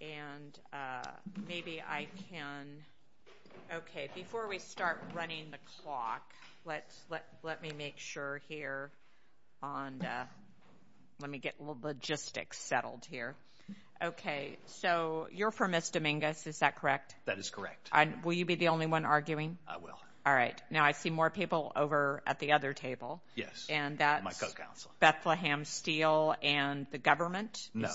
And maybe I can – okay, before we start running the clock, let's – let me make sure here on the – let me get logistics settled here. Okay. So you're for Ms. Dominguez, is that correct? That is correct. Will you be the only one arguing? I will. All right. Now, I see more people over at the other table. Yes, my co-counsel. And that's Bethlehem Steel and the government? No.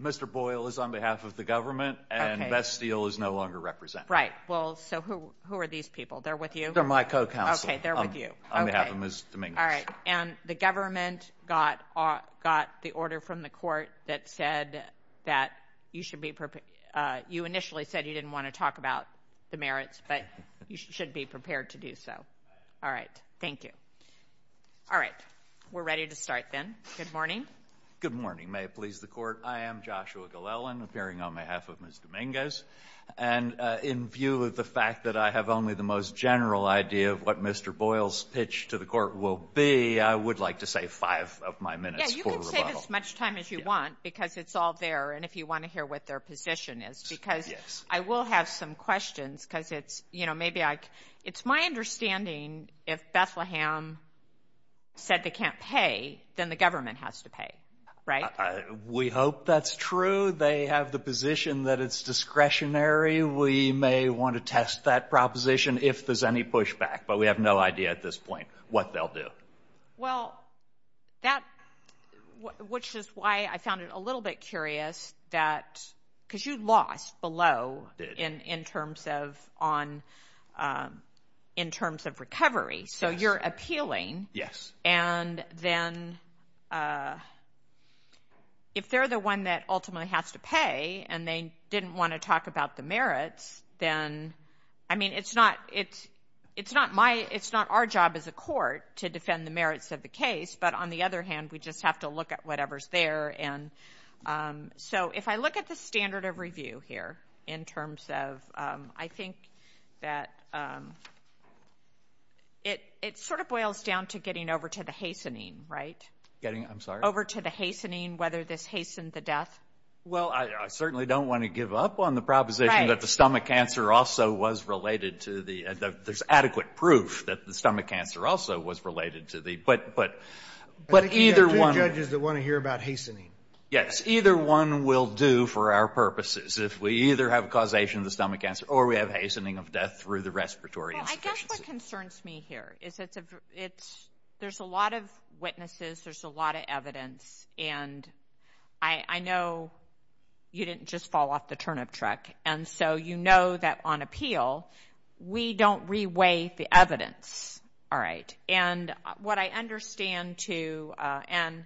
Mr. Boyle is on behalf of the government and Bethlehem Steel is no longer represented. Right. Well, so who are these people? They're with you? They're my co-counsel. Okay, they're with you. On behalf of Ms. Dominguez. All right. And the government got the order from the court that said that you should be – you initially said you didn't want to talk about the merits, but you should be prepared to do so. All right. Thank you. All right. We're ready to start then. Good morning. Good morning. Good morning, everyone. Good morning, everyone. Good morning. May it please the court, I am Joshua Glellen appearing on behalf of Ms. Dominguez. And in view of the fact that I have only the most general idea of what Mr. Boyle's pitch to the court will be, I would like to save five of my minutes for rebuttal. Yes, you can save as much time as you want because it's all there and if you want to hear what their position is because I will have some questions because it's – you know, maybe I – it's my understanding, if Bethlehem said they can't pay, then the government has to pay, right? We hope that's true. They have the position that it's discretionary. We may want to test that proposition if there's any pushback, but we have no idea at this point what they'll do. Well, that – which is why I found it a little bit curious that – because you lost below in terms of on – in terms of recovery. So you're appealing. Yes. And then if they're the one that ultimately has to pay and they didn't want to talk about the merits, then – I mean, it's not – it's not my – it's not our job as a court to defend the merits of the case, but on the other hand, we just have to look at whatever's there and so if I look at the standard of review here in terms of – I think that it – it sort of boils down to getting over to the hastening, right? Getting – I'm sorry? Over to the hastening, whether this hastened the death. Well, I certainly don't want to give up on the proposition that the stomach cancer also was related to the – there's adequate proof that the stomach cancer also was related to the – but either one – I think you have two judges that want to hear about hastening. Yes. Either one will do for our purposes. If we either have causation of the stomach cancer or we have hastening of death through the respiratory insufficiency. Well, I guess what concerns me here is it's – there's a lot of witnesses, there's a lot of evidence and I know you didn't just fall off the turnip truck and so you know that on appeal, we don't re-weigh the evidence, all right? And what I understand to – and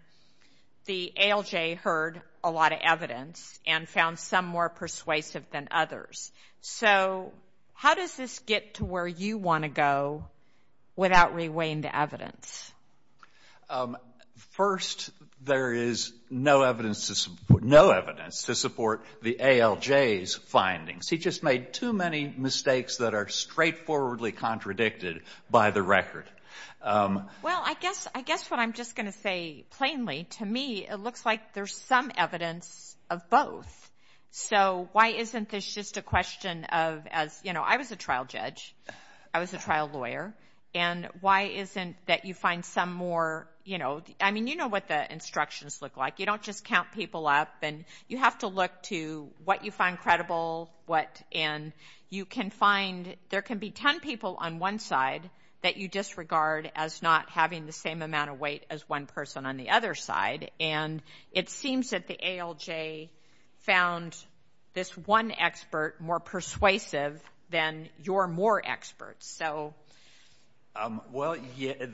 the ALJ heard a lot of evidence and found some more persuasive than others. So how does this get to where you want to go without re-weighing the evidence? First, there is no evidence to support – no evidence to support the ALJ's findings. He just made too many mistakes that are straightforwardly contradicted by the record. Well, I guess what I'm just going to say plainly, to me, it looks like there's some evidence of both. So why isn't this just a question of as – you know, I was a trial judge. I was a trial lawyer. And why isn't that you find some more, you know – I mean, you know what the instructions look like. You don't just count people up and you have to look to what you find credible, what – and you can find – there can be 10 people on one side that you disregard as not having the same amount of weight as one person on the other side. And it seems that the ALJ found this one expert more persuasive than your more experts. So – Well,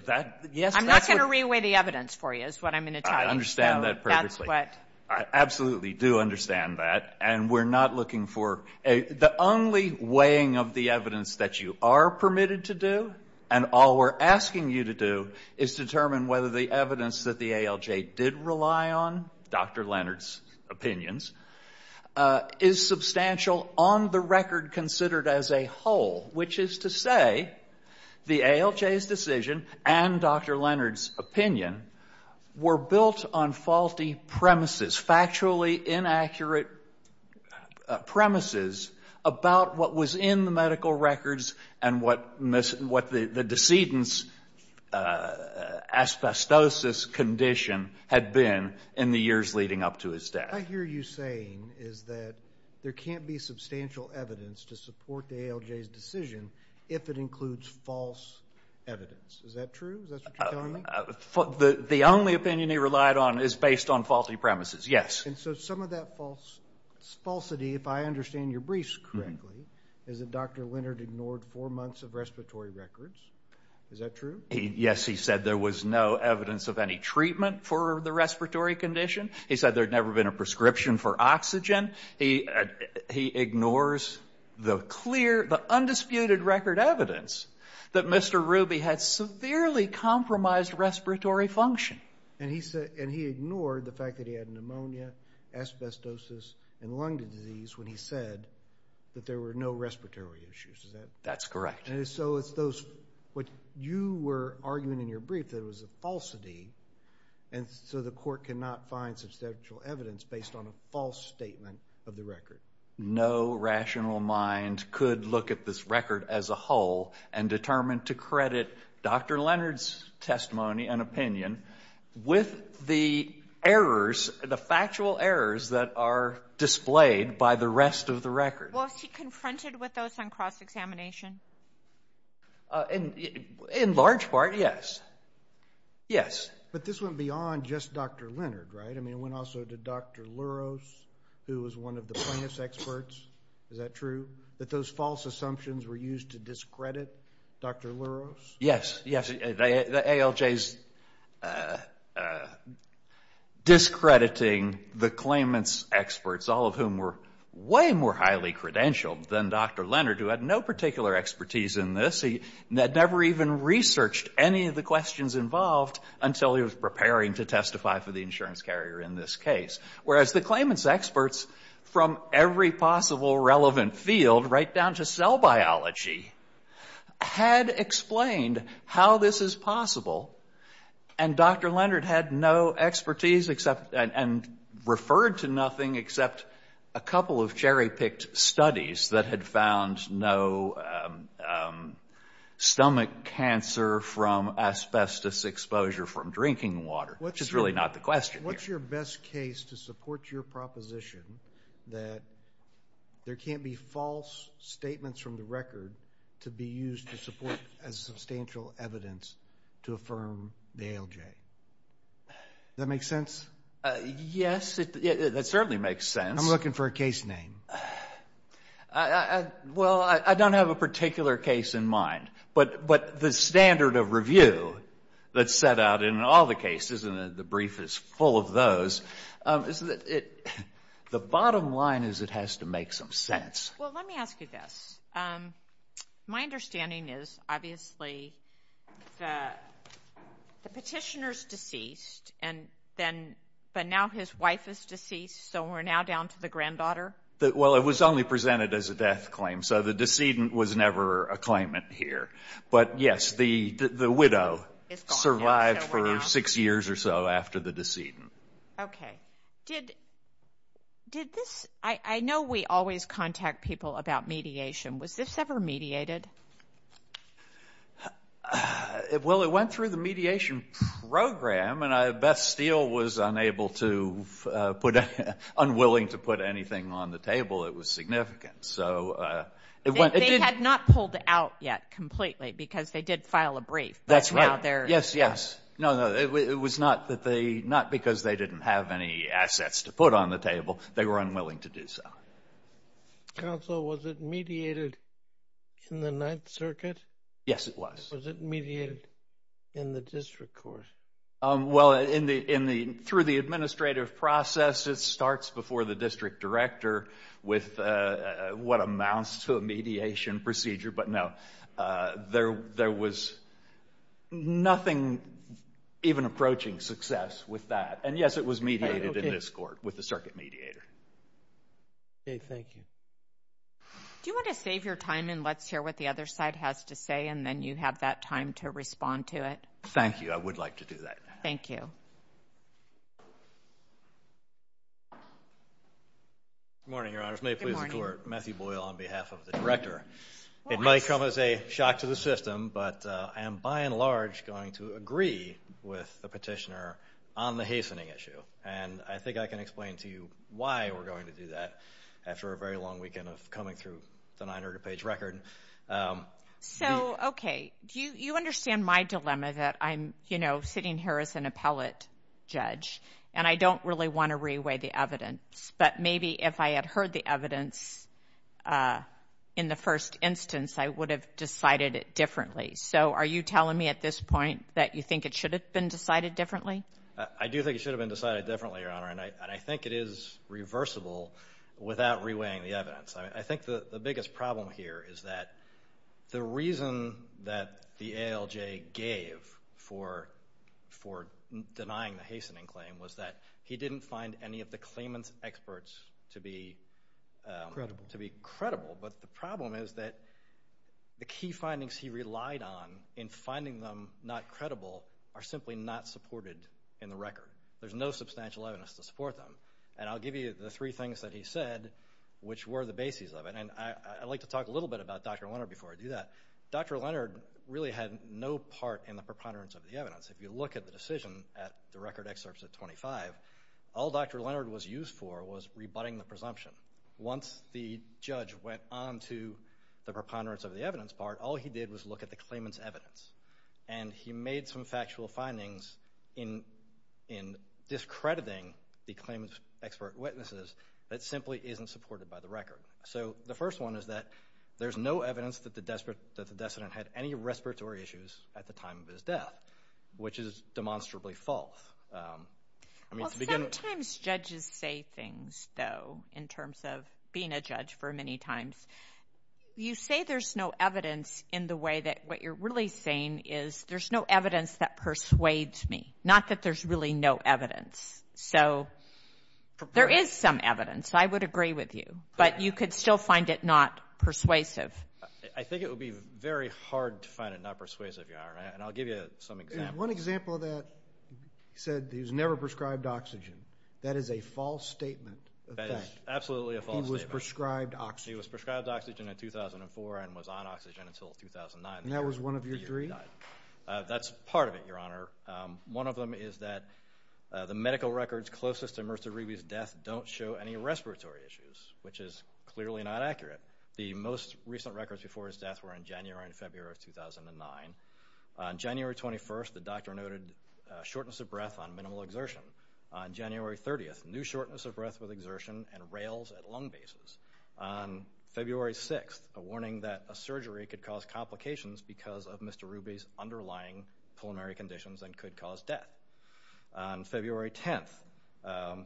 that – yes, that's what – I'm not going to re-weigh the evidence for you is what I'm going to tell you. I understand that perfectly. That's what – I absolutely do understand that. And we're not looking for a – the only weighing of the evidence that you are permitted to do and all we're asking you to do is determine whether the evidence that the ALJ did rely on, Dr. Leonard's opinions, is substantial on the record considered as a whole, which is to say the ALJ's decision and Dr. Leonard's opinion were built on faulty premises, factually inaccurate premises about what was in the medical records and what the decedent's asbestosis condition had been in the years leading up to his death. What I hear you saying is that there can't be substantial evidence to support the ALJ's decision if it includes false evidence. Is that true? Is that what you're telling me? The only opinion he relied on is based on faulty premises, yes. And so some of that falsity, if I understand your briefs correctly, is that Dr. Leonard ignored four months of respiratory records. Is that true? Yes, he said there was no evidence of any treatment for the respiratory condition. He said there had never been a prescription for oxygen. He ignores the clear, the undisputed record evidence that Mr. Ruby had severely compromised respiratory function. And he ignored the fact that he had pneumonia, asbestosis, and lung disease when he said that there were no respiratory issues. Is that correct? That's correct. And so it's those, what you were arguing in your brief that was a falsity, and so the of the record. No rational mind could look at this record as a whole and determine to credit Dr. Leonard's testimony and opinion with the errors, the factual errors that are displayed by the rest of the record. Was he confronted with those on cross-examination? In large part, yes, yes. But this went beyond just Dr. Leonard, right? I mean, it went also to Dr. Louros, who was one of the plaintiff's experts. Is that true? That those false assumptions were used to discredit Dr. Louros? Yes, yes, ALJ's discrediting the claimant's experts, all of whom were way more highly credentialed than Dr. Leonard, who had no particular expertise in this. He had never even researched any of the questions involved until he was preparing to testify for the insurance carrier in this case, whereas the claimant's experts from every possible relevant field, right down to cell biology, had explained how this is possible, and Dr. Leonard had no expertise and referred to nothing except a couple of cherry-picked studies that had found no stomach cancer from asbestos exposure from drinking water, which is really not the question here. What's your best case to support your proposition that there can't be false statements from the record to be used to support as substantial evidence to affirm the ALJ? Does that make sense? Yes, that certainly makes sense. I'm looking for a case name. Well, I don't have a particular case in mind, but the standard of review that's set out in all the cases, and the brief is full of those, is that the bottom line is it has to make some sense. Well, let me ask you this. My understanding is, obviously, the petitioner's deceased, and then, but now his wife is deceased, so we're now down to the granddaughter? Well, it was only presented as a death claim, so the decedent was never a claimant here. But yes, the widow survived for six years or so after the decedent. Okay. Did this, I know we always contact people about mediation. Was this ever mediated? Well, it went through the mediation program, and Beth Steele was unable to put, unwilling to put anything on the table that was significant. They had not pulled out yet completely, because they did file a brief. That's right. Yes, yes. No, no. It was not that they, not because they didn't have any assets to put on the table. They were unwilling to do so. Counsel, was it mediated in the Ninth Circuit? Yes, it was. Was it mediated in the district court? Well, in the, through the administrative process, it starts before the district director with what amounts to a mediation procedure. But no, there was nothing even approaching success with that. And yes, it was mediated in this court with the circuit mediator. Okay, thank you. Do you want to save your time and let's hear what the other side has to say, and then you have that time to respond to it? Thank you. I would like to do that. Thank you. Good morning, Your Honors. Good morning. May it please the Court, Matthew Boyle on behalf of the director. It might come as a shock to the system, but I am by and large going to agree with the petitioner on the hastening issue. And I think I can explain to you why we're going to do that after a very long weekend of coming through the 900-page record. So, okay, you understand my dilemma that I'm, you know, sitting here as an appellate judge, and I don't really want to re-weigh the evidence, but maybe if I had heard the evidence in the first instance, I would have decided it differently. So are you telling me at this point that you think it should have been decided differently? I do think it should have been decided differently, Your Honor, and I think it is reversible without re-weighing the evidence. I think the biggest problem here is that the reason that the ALJ gave for denying the hastening claim was that he didn't find any of the claimant's experts to be credible. But the problem is that the key findings he relied on in finding them not credible are simply not supported in the record. There's no substantial evidence to support them. And I'll give you the three things that he said, which were the bases of it. And I'd like to talk a little bit about Dr. Leonard before I do that. Dr. Leonard really had no part in the preponderance of the evidence. If you look at the decision at the record excerpts at 25, all Dr. Leonard was used for was rebutting the presumption. Once the judge went on to the preponderance of the evidence part, all he did was look at the claimant's evidence. And he made some factual findings in discrediting the claimant's expert witnesses that simply isn't supported by the record. So the first one is that there's no evidence that the decedent had any respiratory issues at the time of his death, which is demonstrably false. I mean, to begin with... Well, sometimes judges say things, though, in terms of being a judge for many times. You say there's no evidence in the way that what you're really saying is there's no evidence that persuades me, not that there's really no evidence. So there is some evidence, I would agree with you, but you could still find it not persuasive. I think it would be very hard to find it not persuasive, Your Honor, and I'll give you some examples. One example of that, he said he was never prescribed oxygen. That is a false statement of fact. Absolutely a false statement. He was prescribed oxygen. He was prescribed oxygen in 2004 and was on oxygen until 2009. And that was one of your three? That's part of it, Your Honor. One of them is that the medical records closest to Mr. Rewey's death don't show any respiratory issues, which is clearly not accurate. The most recent records before his death were in January and February of 2009. On January 21st, the doctor noted shortness of breath on minimal exertion. On January 30th, new shortness of breath with exertion and rails at lung bases. On February 6th, a warning that a surgery could cause complications because of Mr. Rewey's underlying pulmonary conditions and could cause death. On February 10th,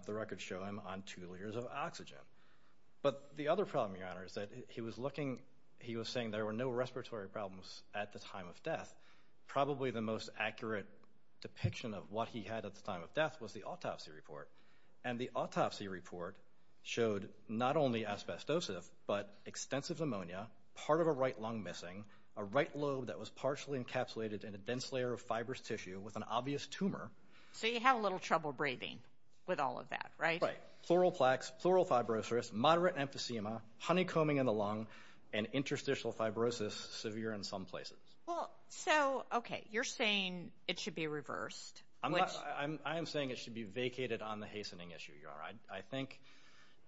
the records show him on two liters of oxygen. But the other problem, Your Honor, is that he was looking, he was saying there were no respiratory problems at the time of death. Probably the most accurate depiction of what he had at the time of death was the autopsy report. And the autopsy report showed not only asbestosis, but extensive pneumonia, part of a right lung missing, a right lobe that was partially encapsulated in a dense layer of fibrous tissue with an obvious tumor. So you have a little trouble breathing with all of that, right? Right. Pleural plaques, pleural fibrosis, moderate emphysema, honeycombing in the lung, and interstitial fibrosis severe in some places. Well, so, okay. You're saying it should be reversed. I am saying it should be vacated on the hastening issue, Your Honor. I think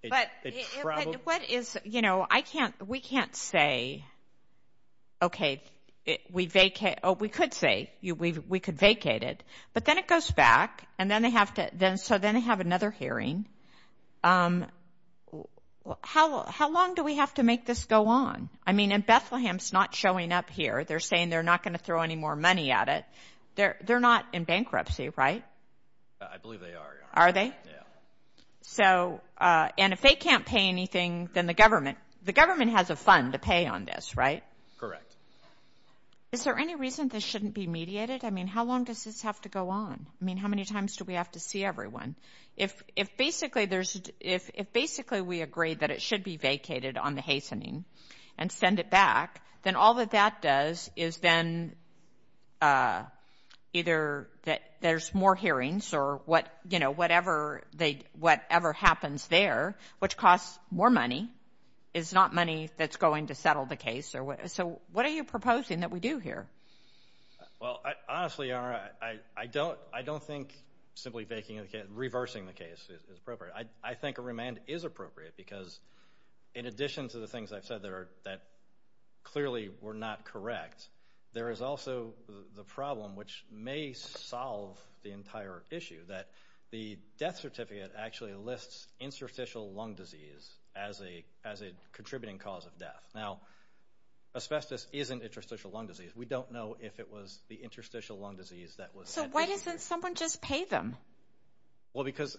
it's probably... What is, you know, I can't, we can't say, okay, we vacate, oh, we could say we could vacate it. But then it goes back, and then they have to, so then they have another hearing. How long do we have to make this go on? I mean, in Bethlehem, it's not showing up here. They're saying they're not going to throw any more money at it. They're not in bankruptcy, right? I believe they are, Your Honor. Are they? Yeah. So, and if they can't pay anything, then the government, the government has a fund to pay on this, right? Correct. Is there any reason this shouldn't be mediated? I mean, how long does this have to go on? I mean, how many times do we have to see everyone? If basically there's, if basically we agree that it should be vacated on the hastening and send it back, then all that that does is then either that there's more hearings or what, you know, whatever they, whatever happens there, which costs more money, is not money that's going to settle the case, or what, so what are you proposing that we do here? Well, I, honestly, Your Honor, I, I don't, I don't think simply vacating the case, reversing the case is appropriate. I, I think a remand is appropriate because in addition to the things I've said that are, that clearly were not correct, there is also the problem, which may solve the entire issue, that the death certificate actually lists interstitial lung disease as a, as a contributing cause of death. Now, asbestos isn't interstitial lung disease. We don't know if it was the interstitial lung disease that was. So why doesn't someone just pay them? Why? Well, because,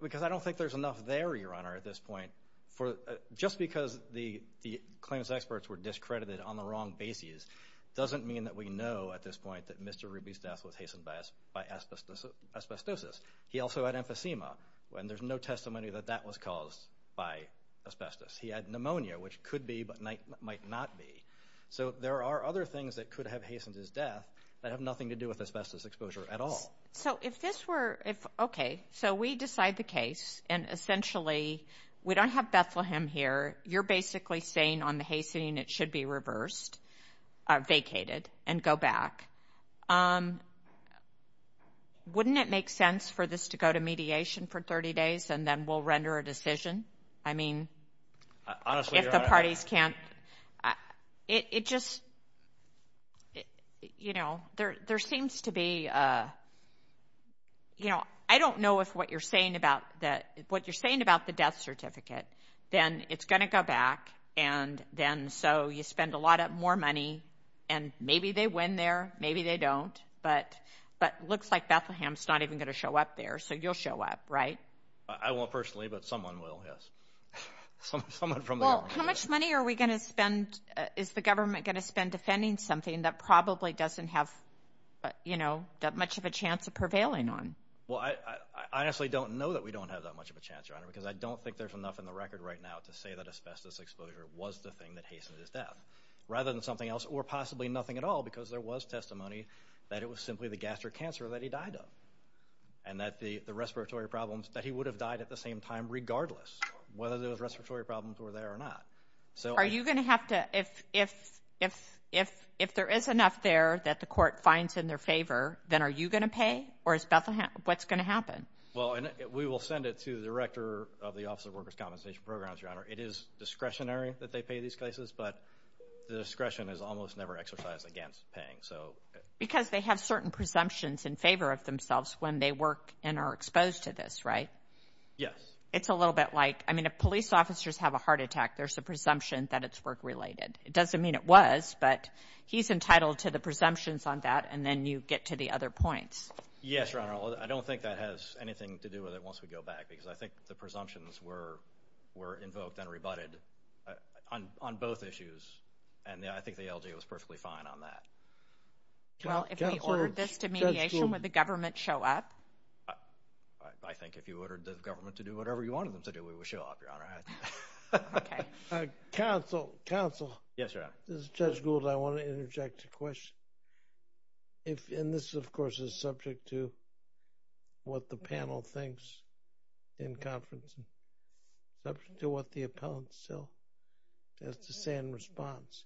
because I don't think there's enough there, Your Honor, at this point for, just because the, the claims experts were discredited on the wrong basis doesn't mean that we know at this point that Mr. Ruby's death was hastened by, by asbestos, asbestosis. He also had emphysema, and there's no testimony that that was caused by asbestos. He had pneumonia, which could be, but might not be. So there are other things that could have hastened his death that have nothing to do with asbestos exposure at all. So, so if this were, if, okay, so we decide the case, and essentially we don't have Bethlehem here, you're basically saying on the hastening it should be reversed, vacated, and go back. Wouldn't it make sense for this to go to mediation for 30 days, and then we'll render a decision? I mean, if the parties can't. It, it just, you know, there, there seems to be a, you know, I don't know if what you're saying about the, what you're saying about the death certificate, then it's going to go back, and then so you spend a lot more money, and maybe they win there, maybe they don't, but, but looks like Bethlehem's not even going to show up there, so you'll show up, right? I won't personally, but someone will, yes. Someone from there. How much money are we going to spend, is the government going to spend defending something that probably doesn't have, you know, that much of a chance of prevailing on? Well, I, I honestly don't know that we don't have that much of a chance, Your Honor, because I don't think there's enough in the record right now to say that asbestos exposure was the thing that hastened his death, rather than something else, or possibly nothing at all, because there was testimony that it was simply the gastric cancer that he died of, and that the, the respiratory problems, that he would have died at the same time regardless whether those respiratory problems were there or not. So are you going to have to, if, if, if, if, if there is enough there that the court finds in their favor, then are you going to pay, or is Bethlehem, what's going to happen? Well, we will send it to the director of the Office of Workers' Compensation Programs, Your Honor. It is discretionary that they pay these cases, but the discretion is almost never exercised against paying, so. Because they have certain presumptions in favor of themselves when they work and are exposed to this, right? Yes. It's a little bit like, I mean, if police officers have a heart attack, there's a presumption that it's work-related. It doesn't mean it was, but he's entitled to the presumptions on that, and then you get to the other points. Yes, Your Honor. I don't think that has anything to do with it once we go back, because I think the presumptions were, were invoked and rebutted on, on both issues, and I think the LGA was perfectly fine on that. Well, if we ordered this to mediation, would the government show up? I, I think if you ordered the government to do whatever you wanted them to do, we would show up, Your Honor. I think. Okay. Uh, counsel, counsel. Yes, Your Honor. This is Judge Gould. I want to interject a question. If, and this, of course, is subject to what the panel thinks in conference, subject to what the appellant still has to say in response,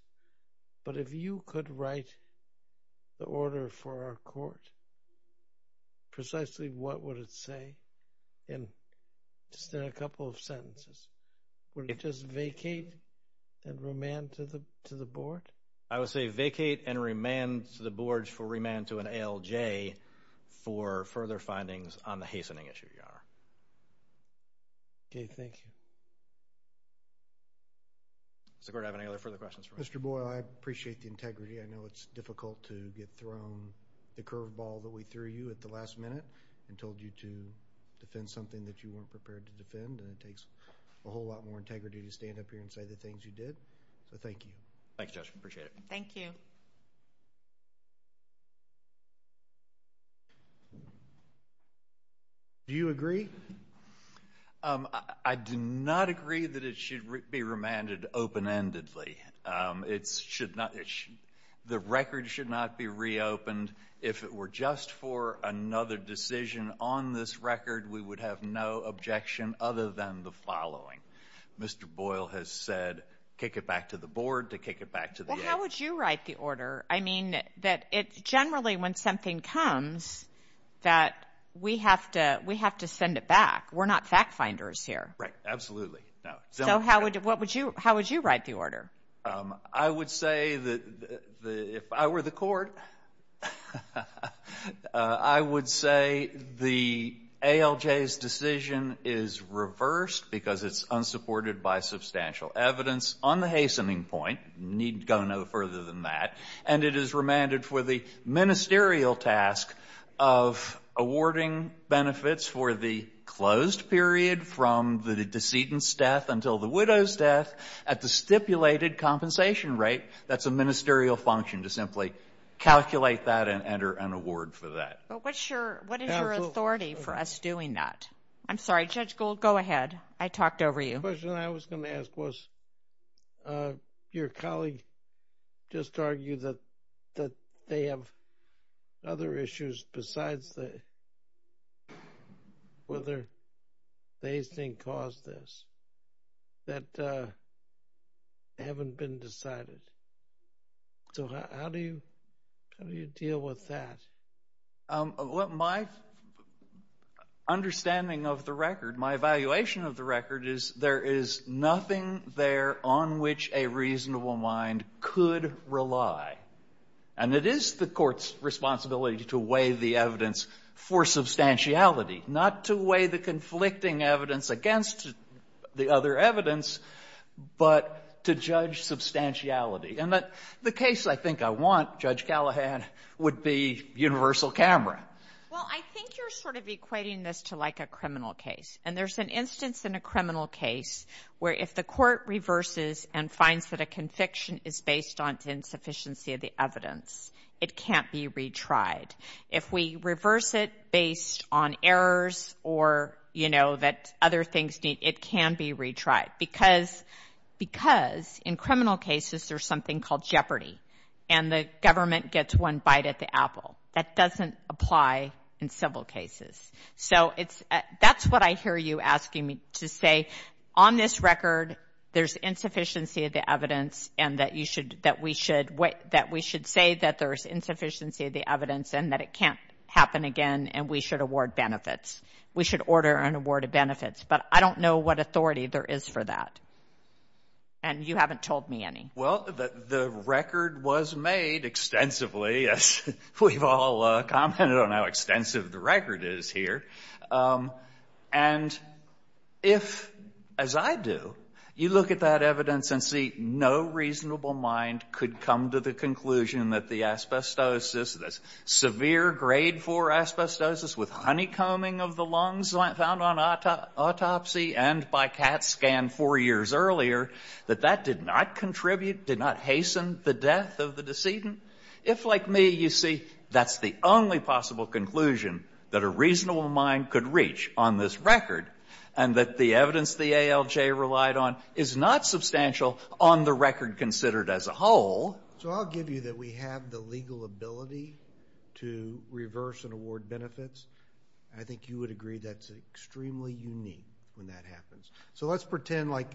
but if you could write the order for our court precisely, what would it say in, just in a couple of sentences? Would it just vacate and remand to the, to the board? I would say vacate and remand to the boards for remand to an ALJ for further findings on the hastening issue, Your Honor. Okay. Thank you. Mr. Gordon, do you have any other further questions for me? Mr. Boyle, I appreciate the integrity. I know it's difficult to get thrown the curve ball that we threw you at the last minute and told you to defend something that you weren't prepared to defend, and it takes a whole lot more integrity to stand up here and say the things you did, so thank you. Thanks, Judge. Appreciate it. Thank you. Do you agree? I do not agree that it should be remanded open-endedly. It should not, the record should not be reopened. If it were just for another decision on this record, we would have no objection other than the following. Mr. Boyle has said kick it back to the board to kick it back to the ALJ. Well, how would you write the order? I mean, that it's generally when something comes that we have to, we have to send it back. We're not fact finders here. Right. Absolutely. No. So how would, what would you, how would you write the order? I would say that the, if I were the court, I would say the ALJ's decision is reversed because it's unsupported by substantial evidence on the hastening point, need go no further than that, and it is remanded for the ministerial task of awarding benefits for the closed period from the decedent's death until the widow's death at the stipulated compensation rate. That's a ministerial function to simply calculate that and enter an award for that. But what's your, what is your authority for us doing that? I'm sorry, Judge Gould, go ahead. I talked over you. The question I was going to ask was, your colleague just argued that they have other issues besides the, whether the hastening caused this that haven't been decided. So how do you, how do you deal with that? My understanding of the record, my evaluation of the record is there is nothing there on which a reasonable mind could rely. And it is the Court's responsibility to weigh the evidence for substantiality, not to weigh the conflicting evidence against the other evidence, but to judge substantiality. And the case I think I want, Judge Callahan, would be universal camera. Well, I think you're sort of equating this to like a criminal case. And there's an instance in a criminal case where if the Court reverses and finds that a conviction is based on insufficiency of the evidence, it can't be retried. If we reverse it based on errors or, you know, that other things need, it can be retried. Because, because in criminal cases there's something called jeopardy and the government gets one bite at the apple. That doesn't apply in civil cases. So it's, that's what I hear you asking me to say. On this record, there's insufficiency of the evidence and that you should, that we should, that we should say that there's insufficiency of the evidence and that it can't happen again and we should award benefits. We should order an award of benefits. But I don't know what authority there is for that. And you haven't told me any. Well, the record was made extensively, as we've all commented on how extensive the record is here, and if, as I do, you look at that evidence and see no reasonable mind could come to the conclusion that the asbestosis, the severe grade 4 asbestosis with honeycombing of the lungs found on autopsy and by CAT scan four years earlier, that that did not contribute, did not hasten the death of the decedent, if like me you see that's the only possible conclusion that a reasonable mind could reach on this record and that the evidence the ALJ relied on is not substantial on the record considered as a whole. So I'll give you that we have the legal ability to reverse and award benefits. I think you would agree that's extremely unique when that happens. So let's pretend like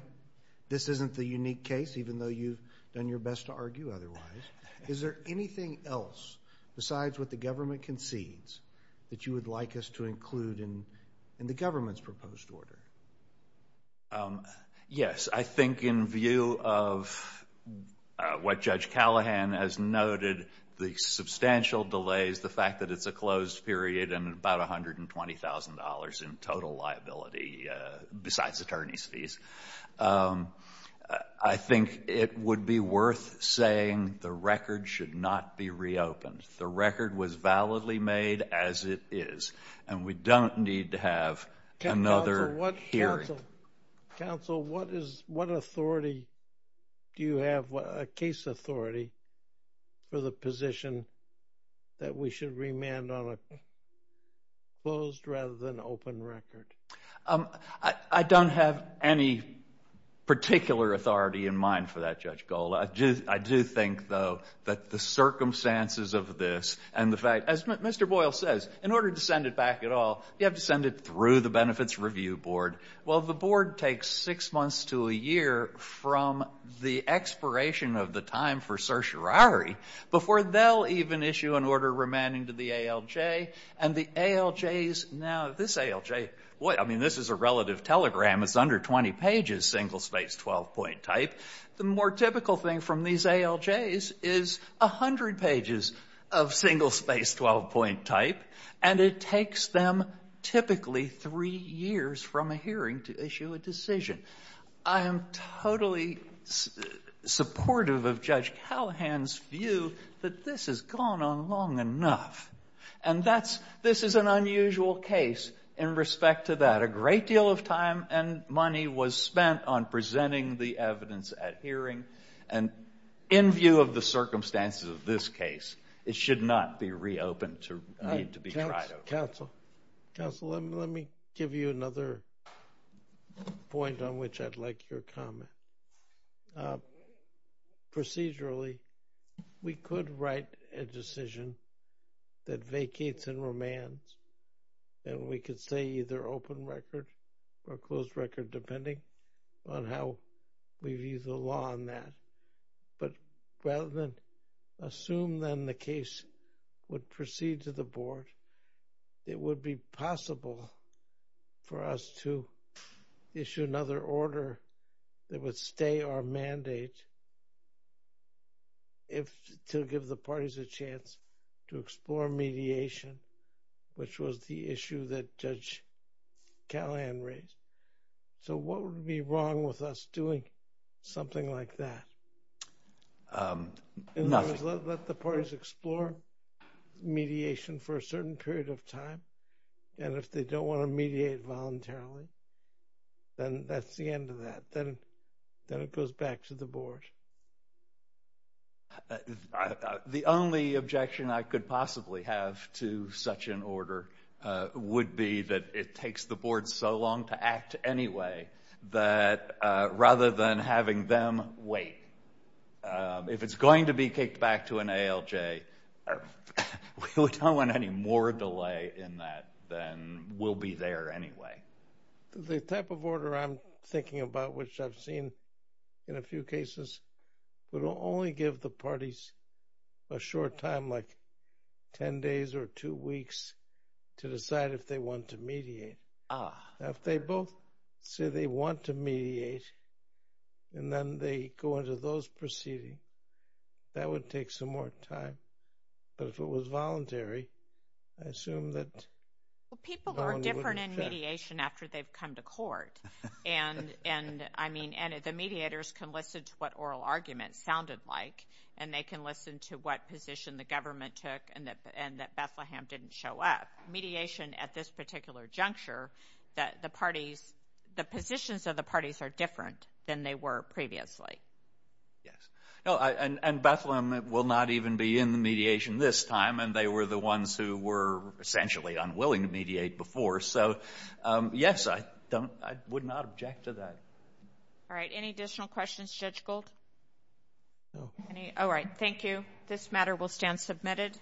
this isn't the unique case, even though you've done your best to argue otherwise. Is there anything else besides what the government concedes that you would like us to include in the government's proposed order? Yes. I think in view of what Judge Callahan has noted, the substantial delays, the fact that it's a closed period and about $120,000 in total liability, besides attorney's fees, I think it would be worth saying the record should not be reopened. The record was validly made as it is and we don't need to have another hearing. Counsel, what authority do you have, a case authority for the position that we should remand on a closed rather than open record? I don't have any particular authority in mind for that, Judge Gold. I do think, though, that the circumstances of this and the fact, as Mr. Boyle says, in order to send it back at all, you have to send it through the Benefits Review Board. Well, the board takes six months to a year from the expiration of the time for certiorari before they'll even issue an order remanding to the ALJ and the ALJs now, this ALJ, I mean, this is a relative telegram, it's under 20 pages, single-spaced 12-point type. The more typical thing from these ALJs is 100 pages of single-spaced 12-point type and it takes them typically three years from a hearing to issue a decision. I am totally supportive of Judge Callahan's view that this has gone on long enough and this is an unusual case in respect to that. A great deal of time and money was spent on presenting the evidence at hearing and in view of the circumstances of this case, it should not be reopened to need to be tried over. Counsel, let me give you another point on which I'd like your comment. Procedurally, we could write a decision that vacates and remands and we could say either open record or closed record depending on how we view the law on that, but rather than assume then the case would proceed to the board, it would be possible for us to issue another order that would stay our mandate to give the parties a chance to explore mediation, which was the issue that Judge Callahan raised. So what would be wrong with us doing something like that? Nothing. Let the parties explore mediation for a certain period of time and if they don't want to mediate voluntarily, then that's the end of that, then it goes back to the board. The only objection I could possibly have to such an order would be that it takes the board so long to act anyway that rather than having them wait, if it's going to be kicked back to an ALJ, we don't want any more delay in that than we'll be there anyway. The type of order I'm thinking about, which I've seen in a few cases, would only give the parties a short time like 10 days or two weeks to decide if they want to mediate. If they both say they want to mediate and then they go into those proceedings, that would take some more time, but if it was voluntary, I assume that no one would check. People are different in mediation after they've come to court and the mediators can listen to what oral arguments sounded like and they can listen to what position the government took and that Bethlehem didn't show up. Mediation at this particular juncture, the positions of the parties are different than they were previously. Bethlehem will not even be in the mediation this time and they were the ones who were essentially unwilling to mediate before, so yes, I would not object to that. All right. Any additional questions, Judge Gold? No. All right. Thank you. This matter will stand submitted.